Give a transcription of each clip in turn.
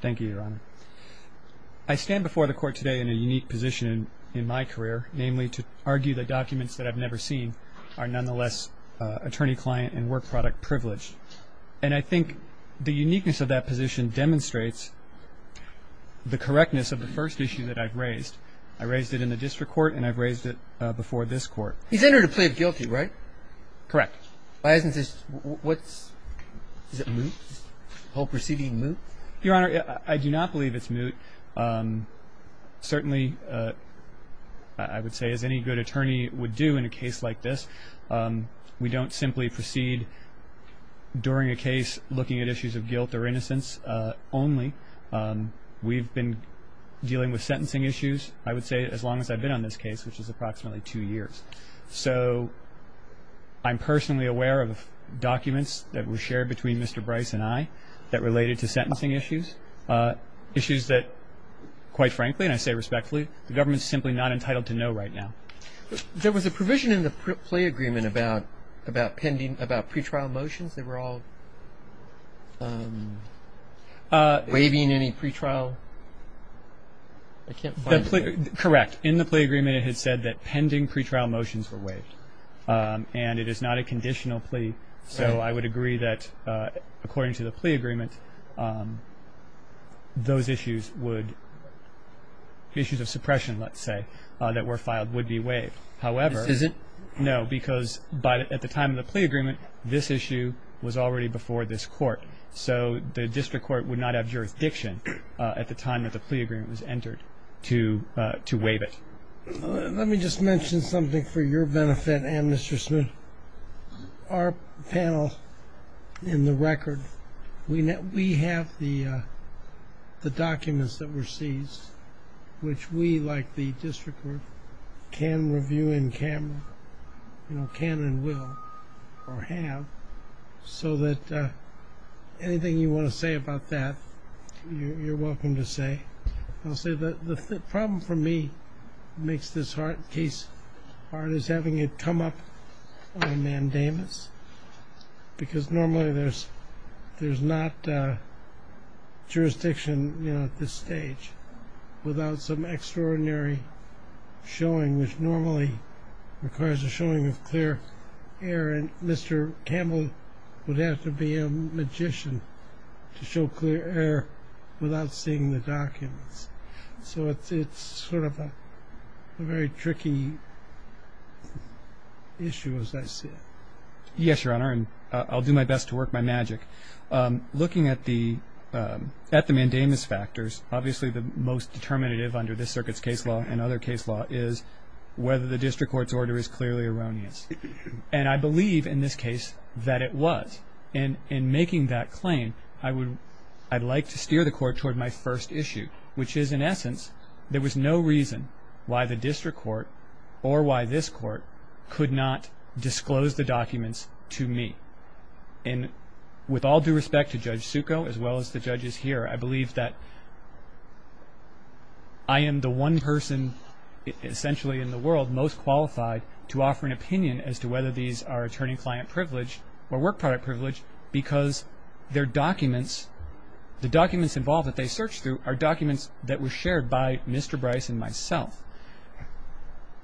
Thank you, your honor. I stand before the court today in a unique position in my career, namely to argue that documents that I've never seen are nonetheless attorney-client and work-product privilege. And I think the uniqueness of that position demonstrates the correctness of the first issue that I've raised. I raised it in the district court and I've raised it before this court. He's entered a plea of guilty, right? Correct. Why isn't this, what's, is it moot? The whole proceeding moot? Your honor, I do not believe it's moot. Certainly, I would say, as any good attorney would do in a case like this, we don't simply proceed during a case looking at issues of guilt or innocence only. We've been dealing with sentencing issues, I would say, as long as I've been on this case, which is approximately two years. So I'm personally aware of documents that were shared between Mr. Brice and I that related to sentencing issues. Issues that, quite frankly, and I say respectfully, the government's simply not entitled to know right now. There was a provision in the plea agreement about, about pending, about pretrial motions. They were all waiving any pretrial, I can't find it. Correct. In the plea agreement, it had said that pending pretrial motions were waived. And it is not a conditional plea. So I would agree that, according to the plea agreement, those issues would, issues of suppression, let's say, that were filed would be waived. However. This isn't? No, because by, at the time of the plea agreement, this issue was already before this court. So the district court would not have jurisdiction at the time that the plea agreement was entered to, to waive it. Let me just mention something for your benefit and Mr. Smith. Our panel in the record, we have the documents that were seized, which we, like the district court, can review in camera, you know, can and will, or have, so that anything you want to say about that, you're welcome to say. I'll say that the problem for me makes this case hard is having it come up on a mandamus. Because normally there's, there's not jurisdiction, you know, at this stage without some extraordinary showing, which normally requires a showing of clear air. And Mr. Campbell would have to be a magician to show clear air without seeing the documents. So it's sort of a very tricky issue, as I see it. Yes, Your Honor, and I'll do my best to work my magic. Looking at the mandamus factors, obviously the most determinative under this circuit's case law and other case law is whether the district court's order is clearly erroneous. And I believe in this case that it was. And in making that claim, I would, I'd like to steer the court toward my first issue, which is, in essence, there was no reason why the district court or why this court could not disclose the documents to me. And with all due respect to Judge Succo, as well as the judges here, I believe that I am the one person, essentially in the world, most qualified to offer an opinion as to whether these are attorney-client privilege or work product privilege because their documents, the documents involved that they searched through are documents that were shared by Mr. Bryce and myself.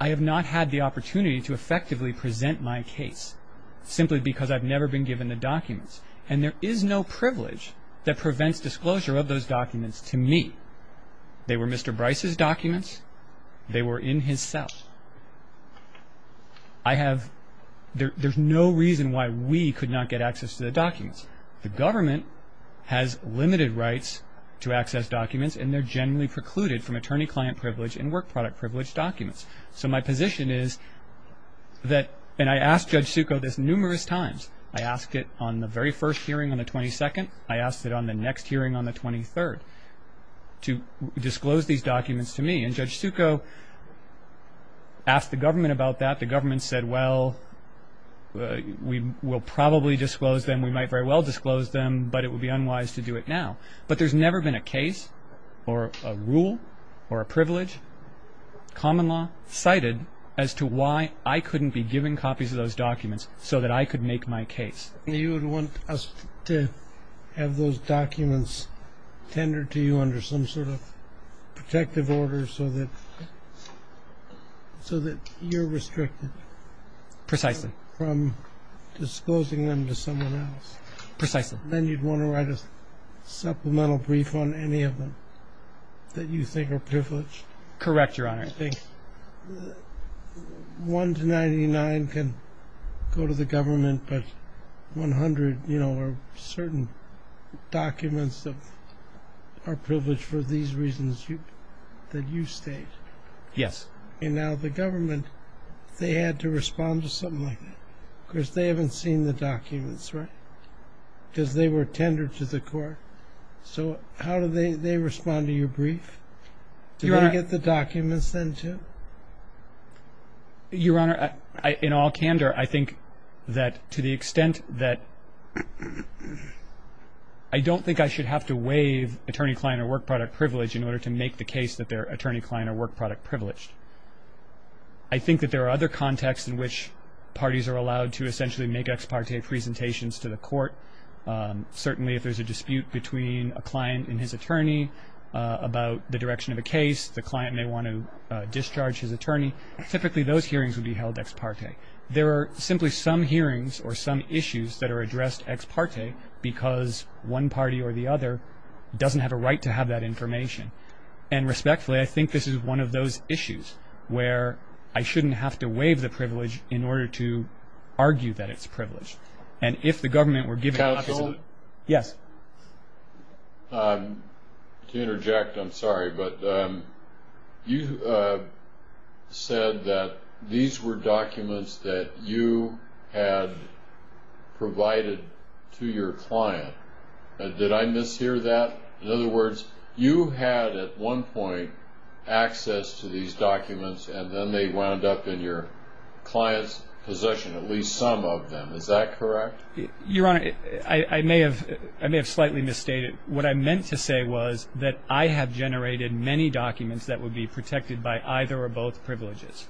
I have not had the opportunity to effectively present my case simply because I've never been given the documents. And there is no privilege that prevents disclosure of those documents to me. They were Mr. Bryce's documents. They were in his cell. I have, there's no reason why we could not get access to the documents. The government has limited rights to access documents, and they're generally precluded from attorney-client privilege and work product privilege documents. So my position is that, and I asked Judge Succo this numerous times. I asked it on the very first hearing on the 22nd. I asked it on the next hearing on the 23rd to disclose these documents to me. And Judge Succo asked the government about that. The government said, well, we'll probably disclose them. We might very well disclose them, but it would be unwise to do it now. But there's never been a case or a rule or a privilege, common law, cited as to why I couldn't be given copies of those documents so that I could make my case. You would want us to have those documents tendered to you under some sort of protective order so that you're restricted. Precisely. From disclosing them to someone else. Precisely. Then you'd want to write a supplemental brief on any of them that you think are privileged. Correct, Your Honor. One to 99 can go to the government, but 100 are certain documents that are privileged for these reasons that you state. Yes. And now the government, they had to respond to something like that because they haven't seen the documents, right? Because they were tendered to the court. So how do they respond to your brief? Do they get the documents then, too? Your Honor, in all candor, I think that to the extent that I don't think I should have to waive attorney-client or work-product privilege in order to make the case that they're attorney-client or work-product privileged. I think that there are other contexts in which parties are allowed to essentially make ex parte presentations to the court. Certainly if there's a dispute between a client and his attorney about the direction of a case, the client may want to discharge his attorney. Typically those hearings would be held ex parte. There are simply some hearings or some issues that are addressed ex parte because one party or the other doesn't have a right to have that information. And respectfully, I think this is one of those issues where I shouldn't have to waive the privilege in order to argue that it's privileged. And if the government were given the opportunity. Counsel? Yes. To interject, I'm sorry, but you said that these were documents that you had provided to your client. Did I mishear that? In other words, you had at one point access to these documents, and then they wound up in your client's possession, at least some of them. Is that correct? Your Honor, I may have slightly misstated. What I meant to say was that I have generated many documents that would be protected by either or both privileges.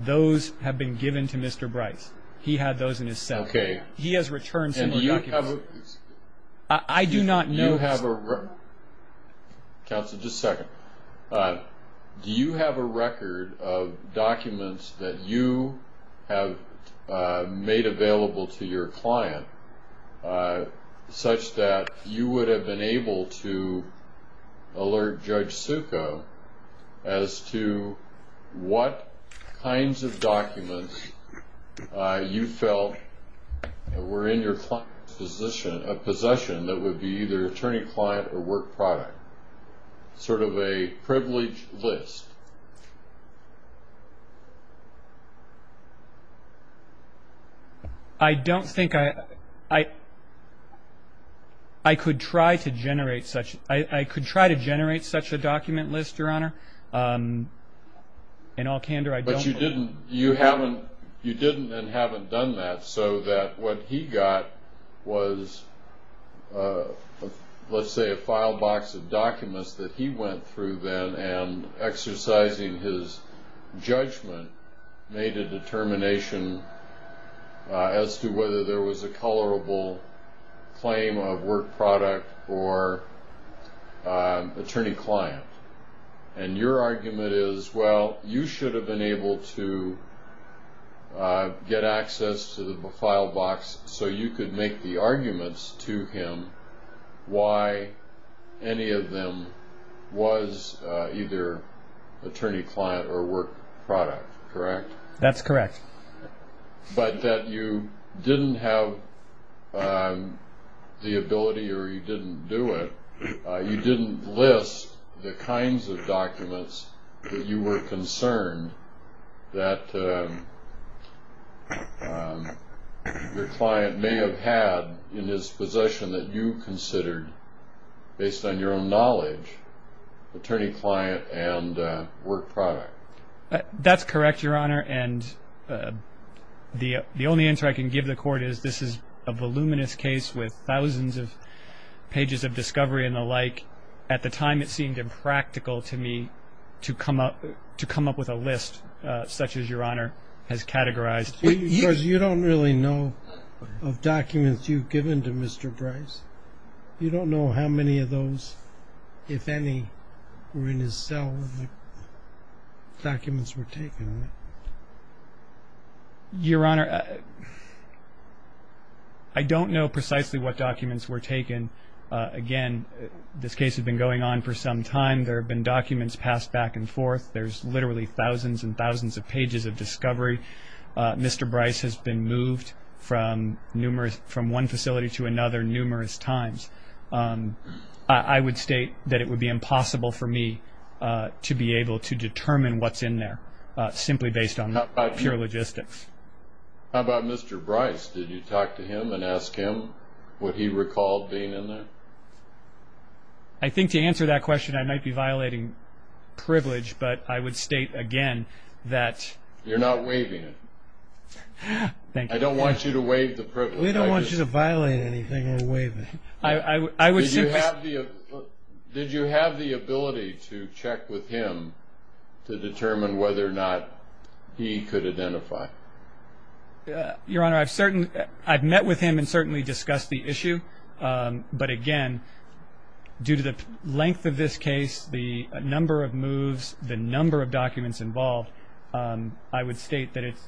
Those have been given to Mr. Bryce. He had those in his cell. Okay. He has returned some of the documents. I do not know. Counsel, just a second. Do you have a record of documents that you have made available to your client such that you would have been able to alert Judge Suko as to what kinds of documents you felt were in your client's possession that would be either attorney-client or work product? Sort of a privileged list. I don't think I could try to generate such a document list, Your Honor. In all candor, I don't. You didn't and haven't done that so that what he got was, let's say, a file box of documents that he went through then, and exercising his judgment made a determination as to whether there was a colorable claim of work product or attorney-client. And your argument is, well, you should have been able to get access to the file box so you could make the arguments to him why any of them was either attorney-client or work product, correct? That's correct. But that you didn't have the ability or you didn't do it, you didn't list the kinds of documents that you were concerned that your client may have had in his possession that you considered, based on your own knowledge, attorney-client and work product. That's correct, Your Honor. And the only answer I can give the Court is this is a voluminous case with thousands of pages of discovery and the like. At the time, it seemed impractical to me to come up with a list such as Your Honor has categorized. Because you don't really know of documents you've given to Mr. Bryce. You don't know how many of those, if any, were in his cell when the documents were taken, right? Your Honor, I don't know precisely what documents were taken. Again, this case had been going on for some time. There have been documents passed back and forth. There's literally thousands and thousands of pages of discovery. Mr. Bryce has been moved from one facility to another numerous times. I would state that it would be impossible for me to be able to determine what's in there, simply based on pure logistics. How about Mr. Bryce? Did you talk to him and ask him what he recalled being in there? I think to answer that question, I might be violating privilege, but I would state again that You're not waiving it. I don't want you to waive the privilege. We don't want you to violate anything we're waiving. Did you have the ability to check with him to determine whether or not he could identify? Your Honor, I've met with him and certainly discussed the issue. But again, due to the length of this case, the number of moves, the number of documents involved, I would state that it's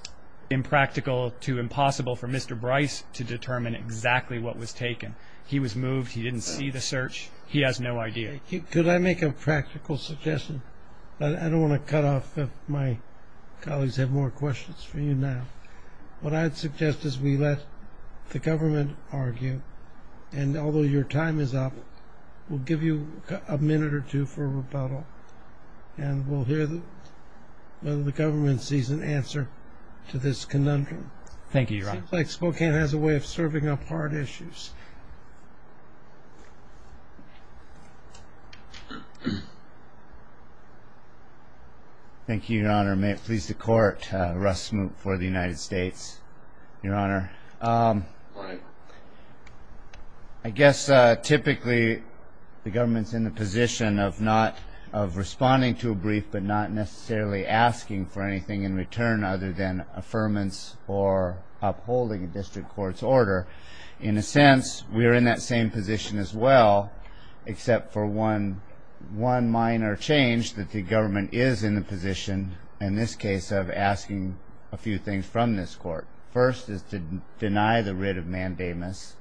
impractical to impossible for Mr. Bryce to determine exactly what was taken. He was moved. He didn't see the search. He has no idea. Could I make a practical suggestion? I don't want to cut off if my colleagues have more questions for you now. What I'd suggest is we let the government argue. And although your time is up, we'll give you a minute or two for rebuttal. And we'll hear whether the government sees an answer to this conundrum. Thank you, Your Honor. It seems like Spokane has a way of serving up hard issues. Thank you, Your Honor. May it please the Court, Russ Smoot for the United States. Your Honor, I guess typically the government's in the position of responding to a brief but not necessarily asking for anything in return other than affirmance or upholding a district court's order. In a sense, we are in that same position as well, except for one minor change, that the government is in the position, in this case, of asking a few things from this Court. First is to deny the writ of mandamus,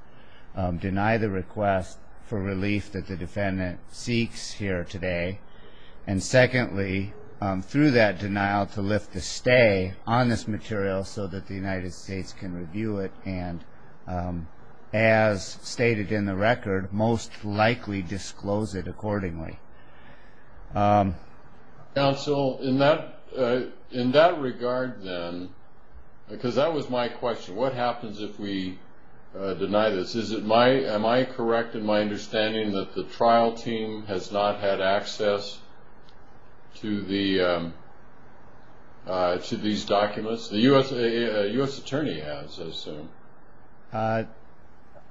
deny the request for relief that the defendant seeks here today. And secondly, through that denial, to lift the stay on this material so that the United States can review it. And as stated in the record, most likely disclose it accordingly. Counsel, in that regard then, because that was my question, what happens if we deny this? Am I correct in my understanding that the trial team has not had access to these documents? The U.S. Attorney has, I assume.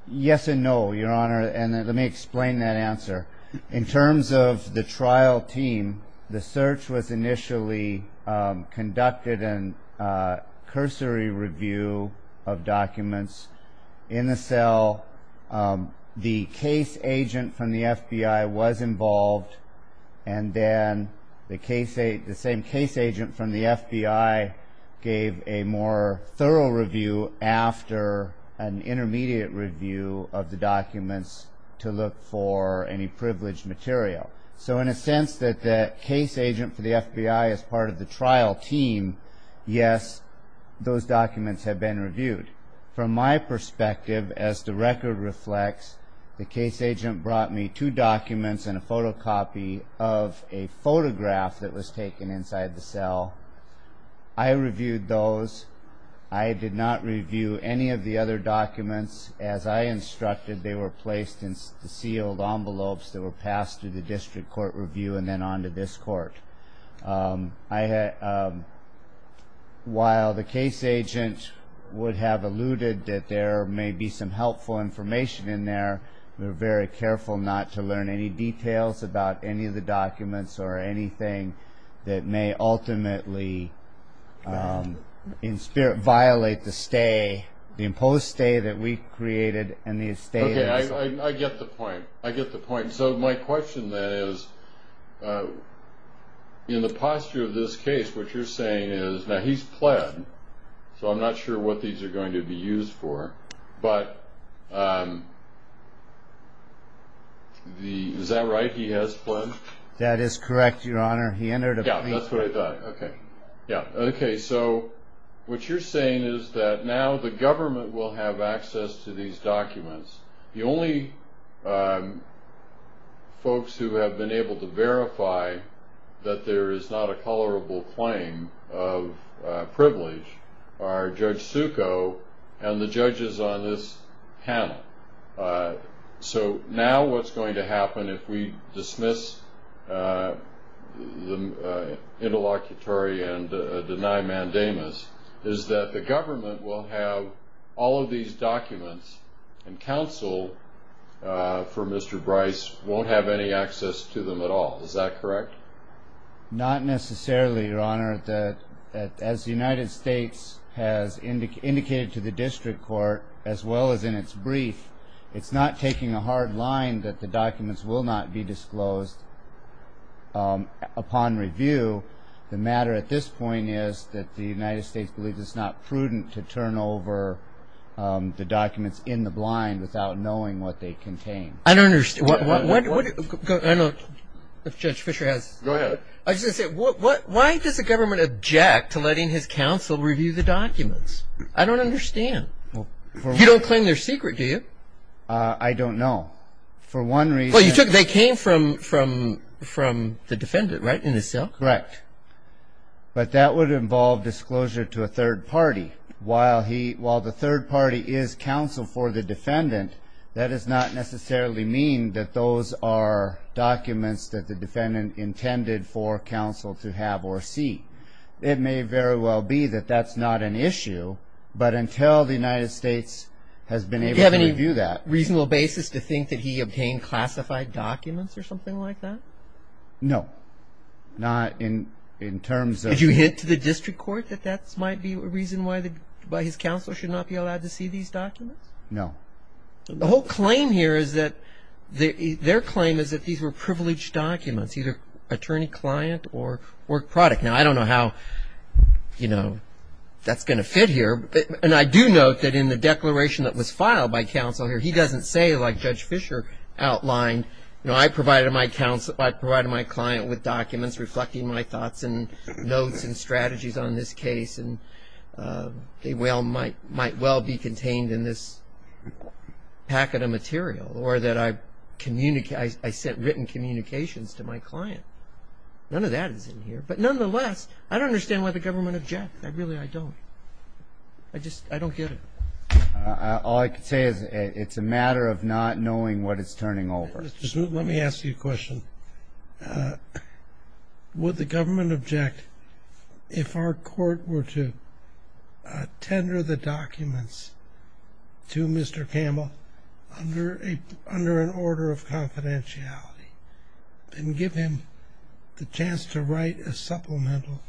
Yes and no, Your Honor, and let me explain that answer. In terms of the trial team, the search was initially conducted in cursory review of documents in the cell. The case agent from the FBI was involved, and then the same case agent from the FBI gave a more thorough review after an intermediate review of the documents to look for any privileged material. So in a sense that the case agent for the FBI is part of the trial team, yes, those documents have been reviewed. From my perspective, as the record reflects, the case agent brought me two documents and a photocopy of a photograph that was taken inside the cell. I reviewed those. I did not review any of the other documents. As I instructed, they were placed in sealed envelopes that were passed through the district court review and then on to this court. While the case agent would have alluded that there may be some helpful information in there, we were very careful not to learn any details about any of the documents or anything that may ultimately violate the imposed stay that we created in the estate. Okay, I get the point. I get the point. So my question then is, in the posture of this case, what you're saying is, now he's pled, so I'm not sure what these are going to be used for, but is that right? He has pled? That is correct, Your Honor. He entered a plea. Yeah, that's what I thought. Okay, yeah. Okay, so what you're saying is that now the government will have access to these documents. The only folks who have been able to verify that there is not a tolerable claim of privilege are Judge Suko and the judges on this panel. So now what's going to happen if we dismiss the interlocutory and deny mandamus is that the government will have all of these documents and counsel for Mr. Bryce won't have any access to them at all. Is that correct? Not necessarily, Your Honor. As the United States has indicated to the district court, as well as in its brief, it's not taking a hard line that the documents will not be disclosed upon review. The matter at this point is that the United States believes it's not prudent to turn over the documents in the blind without knowing what they contain. I don't understand. I don't know if Judge Fisher has. Go ahead. I was just going to say, why does the government object to letting his counsel review the documents? I don't understand. You don't claim they're secret, do you? I don't know. For one reason. Well, they came from the defendant, right, in his cell? Correct. But that would involve disclosure to a third party. While the third party is counsel for the defendant, that does not necessarily mean that those are documents that the defendant intended for counsel to have or see. It may very well be that that's not an issue, but until the United States has been able to review that. Do you have any reasonable basis to think that he obtained classified documents or something like that? No. Not in terms of. Did you hint to the district court that that might be a reason why his counsel should not be allowed to see these documents? No. The whole claim here is that their claim is that these were privileged documents, either attorney-client or work product. Now, I don't know how, you know, that's going to fit here. And I do note that in the declaration that was filed by counsel here, he doesn't say like Judge Fischer outlined, you know, I provided my client with documents reflecting my thoughts and notes and strategies on this case, and they might well be contained in this packet of material, or that I sent written communications to my client. None of that is in here. But nonetheless, I don't understand why the government objected. Really, I don't. I just, I don't get it. All I can say is it's a matter of not knowing what is turning over. Let me ask you a question. Would the government object if our court were to tender the documents to Mr. Campbell under an order of confidentiality and give him the chance to write a supplemental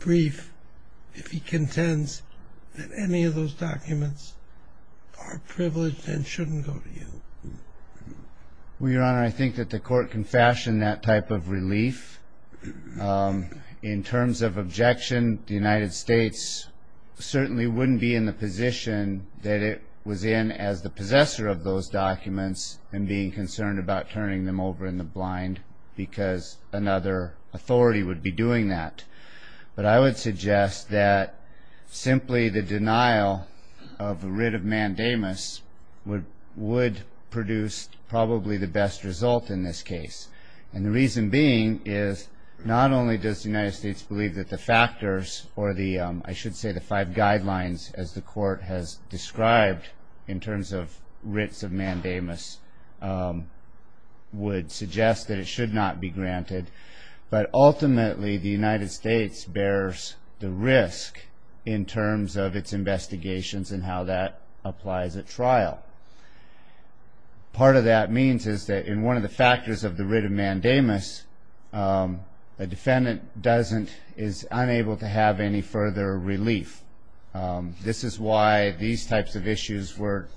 brief if he contends that any of those documents are privileged and shouldn't go to you? Well, Your Honor, I think that the court can fashion that type of relief. In terms of objection, the United States certainly wouldn't be in the position that it was in as the possessor of those documents and being concerned about turning them over in the blind because another authority would be doing that. But I would suggest that simply the denial of a writ of mandamus would produce probably the best result in this case. And the reason being is not only does the United States believe that the factors or the, I should say, the five guidelines as the court has described in terms of writs of mandamus would suggest that it should not be granted, but ultimately the United States bears the risk in terms of its investigations and how that applies at trial. Part of that means is that in one of the factors of the writ of mandamus, a defendant is unable to have any further relief. This is why these types of issues were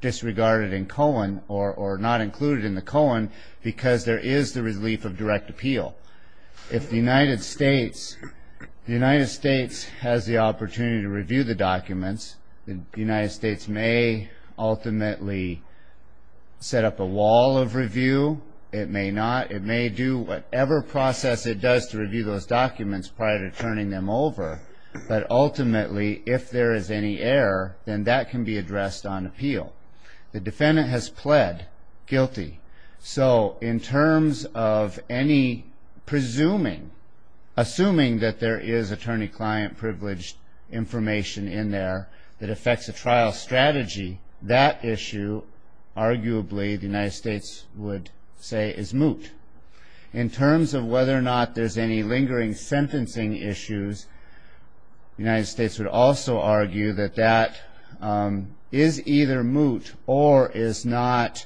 disregarded in Cohen or not included in the Cohen because there is the relief of direct appeal. If the United States has the opportunity to review the documents, the United States may ultimately set up a wall of review. It may not. It may do whatever process it does to review those documents prior to turning them over. But ultimately, if there is any error, then that can be addressed on appeal. The defendant has pled guilty. So in terms of any presuming, assuming that there is attorney-client privileged information in there that affects a trial strategy, that issue arguably the United States would say is moot. In terms of whether or not there's any lingering sentencing issues, the United States would also argue that that is either moot or is not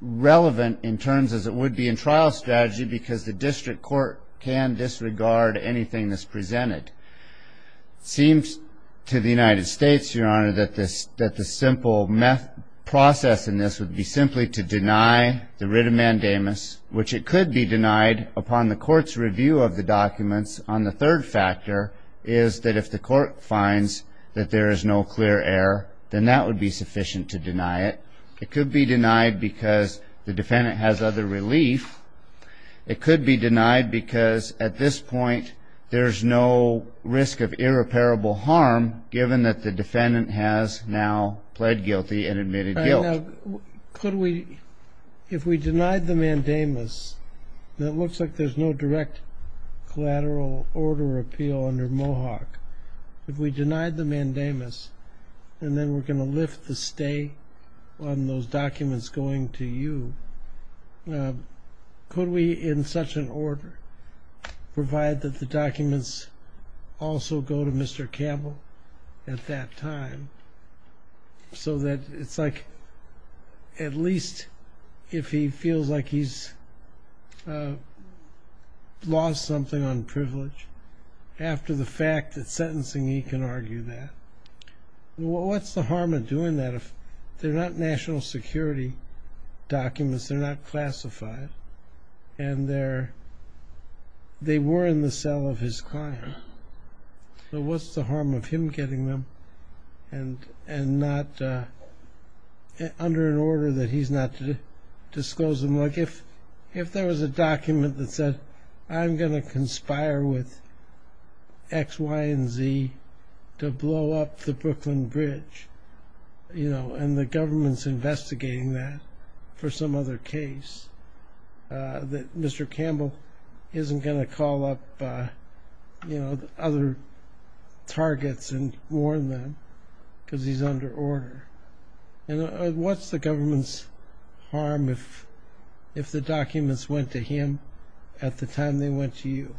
relevant in terms as it would be in trial strategy because the district court can disregard anything that's presented. It seems to the United States, Your Honor, that the simple process in this would be simply to deny the writ of mandamus, which it could be denied upon the court's review of the documents. On the third factor is that if the court finds that there is no clear error, then that would be sufficient to deny it. It could be denied because the defendant has other relief. It could be denied because at this point there's no risk of irreparable harm, given that the defendant has now pled guilty and admitted guilt. Now, could we, if we denied the mandamus, and it looks like there's no direct collateral order appeal under Mohawk, if we denied the mandamus and then we're going to lift the stay on those documents going to you, could we in such an order provide that the documents also go to Mr. Campbell at that time so that it's like at least if he feels like he's lost something on privilege, after the fact that sentencing he can argue that? What's the harm of doing that if they're not national security documents, they're not classified, and they were in the cell of his client? So what's the harm of him getting them and not, under an order that he's not to disclose them? Like if there was a document that said, I'm going to conspire with X, Y, and Z to blow up the Brooklyn Bridge, and the government's investigating that for some other case, that Mr. Campbell isn't going to call up other targets and warn them because he's under order. And what's the government's harm if the documents went to him at the time they went to you?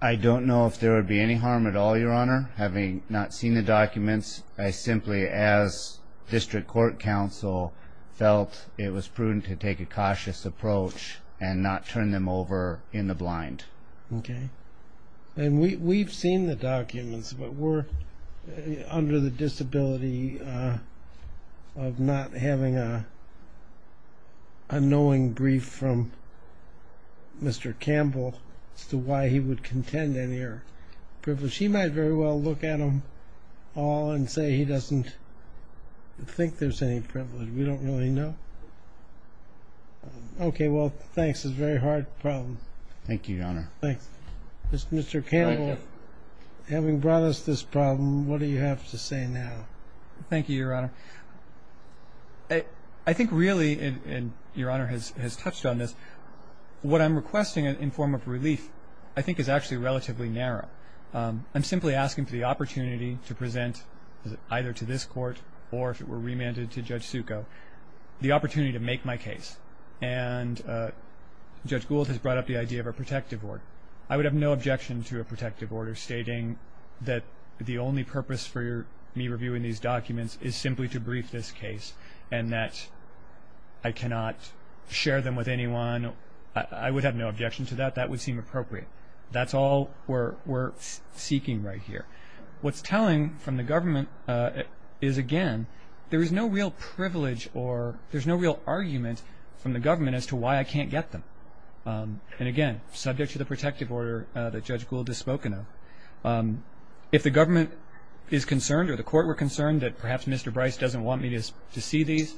I don't know if there would be any harm at all, Your Honor, having not seen the documents. I simply, as district court counsel, felt it was prudent to take a cautious approach and not turn them over in the blind. Okay. And we've seen the documents, but we're under the disability of not having a knowing brief from Mr. Campbell as to why he would contend any of your privilege. He might very well look at them all and say he doesn't think there's any privilege. We don't really know. Okay, well, thanks. It's a very hard problem. Thank you, Your Honor. Thanks. Mr. Campbell, having brought us this problem, what do you have to say now? Thank you, Your Honor. I think really, and Your Honor has touched on this, what I'm requesting in form of relief I think is actually relatively narrow. I'm simply asking for the opportunity to present either to this court or if it were remanded to Judge Succo the opportunity to make my case. And Judge Gould has brought up the idea of a protective order. I would have no objection to a protective order stating that the only purpose for me reviewing these documents is simply to brief this case and that I cannot share them with anyone. I would have no objection to that. That would seem appropriate. That's all we're seeking right here. What's telling from the government is, again, there is no real privilege or there's no real argument from the government as to why I can't get them. And, again, subject to the protective order that Judge Gould has spoken of, if the government is concerned or the court were concerned that perhaps Mr. Bryce doesn't want me to see these,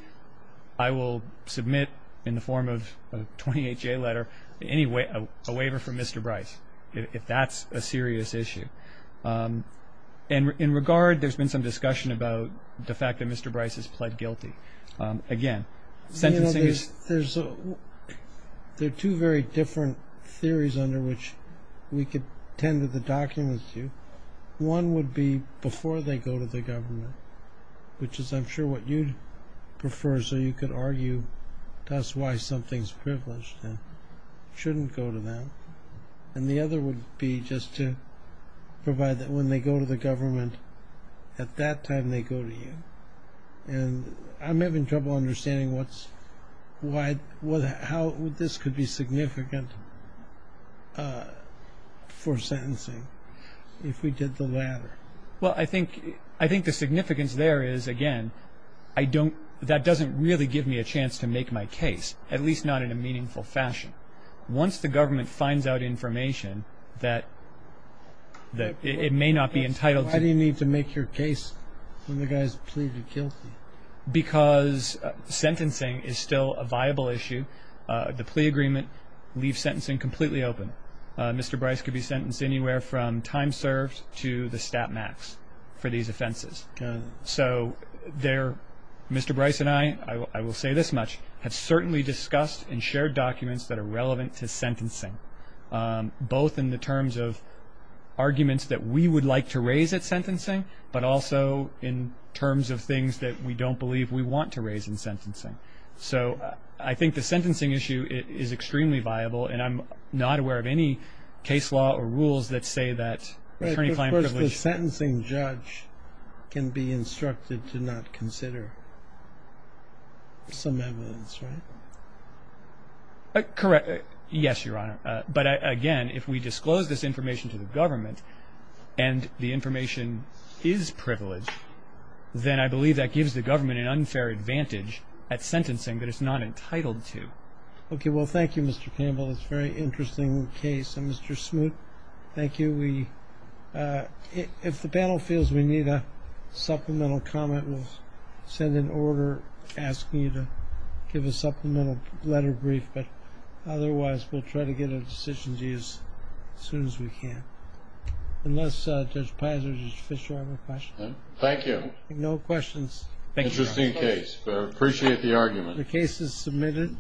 I will submit in the form of a 28-J letter a waiver from Mr. Bryce if that's a serious issue. And in regard, there's been some discussion about the fact that Mr. Bryce has pled guilty. Again, sentencing is... There are two very different theories under which we could tend to the documents to. One would be before they go to the government, which is, I'm sure, what you'd prefer, so you could argue to us why something's privileged and shouldn't go to them. And the other would be just to provide that when they go to the government, at that time they go to you. And I'm having trouble understanding how this could be significant for sentencing if we did the latter. Well, I think the significance there is, again, that doesn't really give me a chance to make my case, at least not in a meaningful fashion. Once the government finds out information that it may not be entitled to... When the guy's pleaded guilty. Because sentencing is still a viable issue. The plea agreement leaves sentencing completely open. Mr. Bryce could be sentenced anywhere from time served to the stat max for these offenses. So Mr. Bryce and I, I will say this much, have certainly discussed and shared documents that are relevant to sentencing, both in the terms of arguments that we would like to raise at sentencing, but also in terms of things that we don't believe we want to raise in sentencing. So I think the sentencing issue is extremely viable, and I'm not aware of any case law or rules that say that attorney client privilege... But first, the sentencing judge can be instructed to not consider some evidence, right? Correct. Yes, Your Honor. But, again, if we disclose this information to the government and the information is privilege, then I believe that gives the government an unfair advantage at sentencing that it's not entitled to. Okay. Well, thank you, Mr. Campbell. That's a very interesting case. And, Mr. Smoot, thank you. If the panel feels we need a supplemental comment, we'll send an order asking you to give a supplemental letter brief, but otherwise we'll try to get a decision to you as soon as we can. Unless, Judge Pizer, Judge Fischer, you have a question? Thank you. No questions. Thank you, Your Honor. Interesting case, but I appreciate the argument. The case is submitted.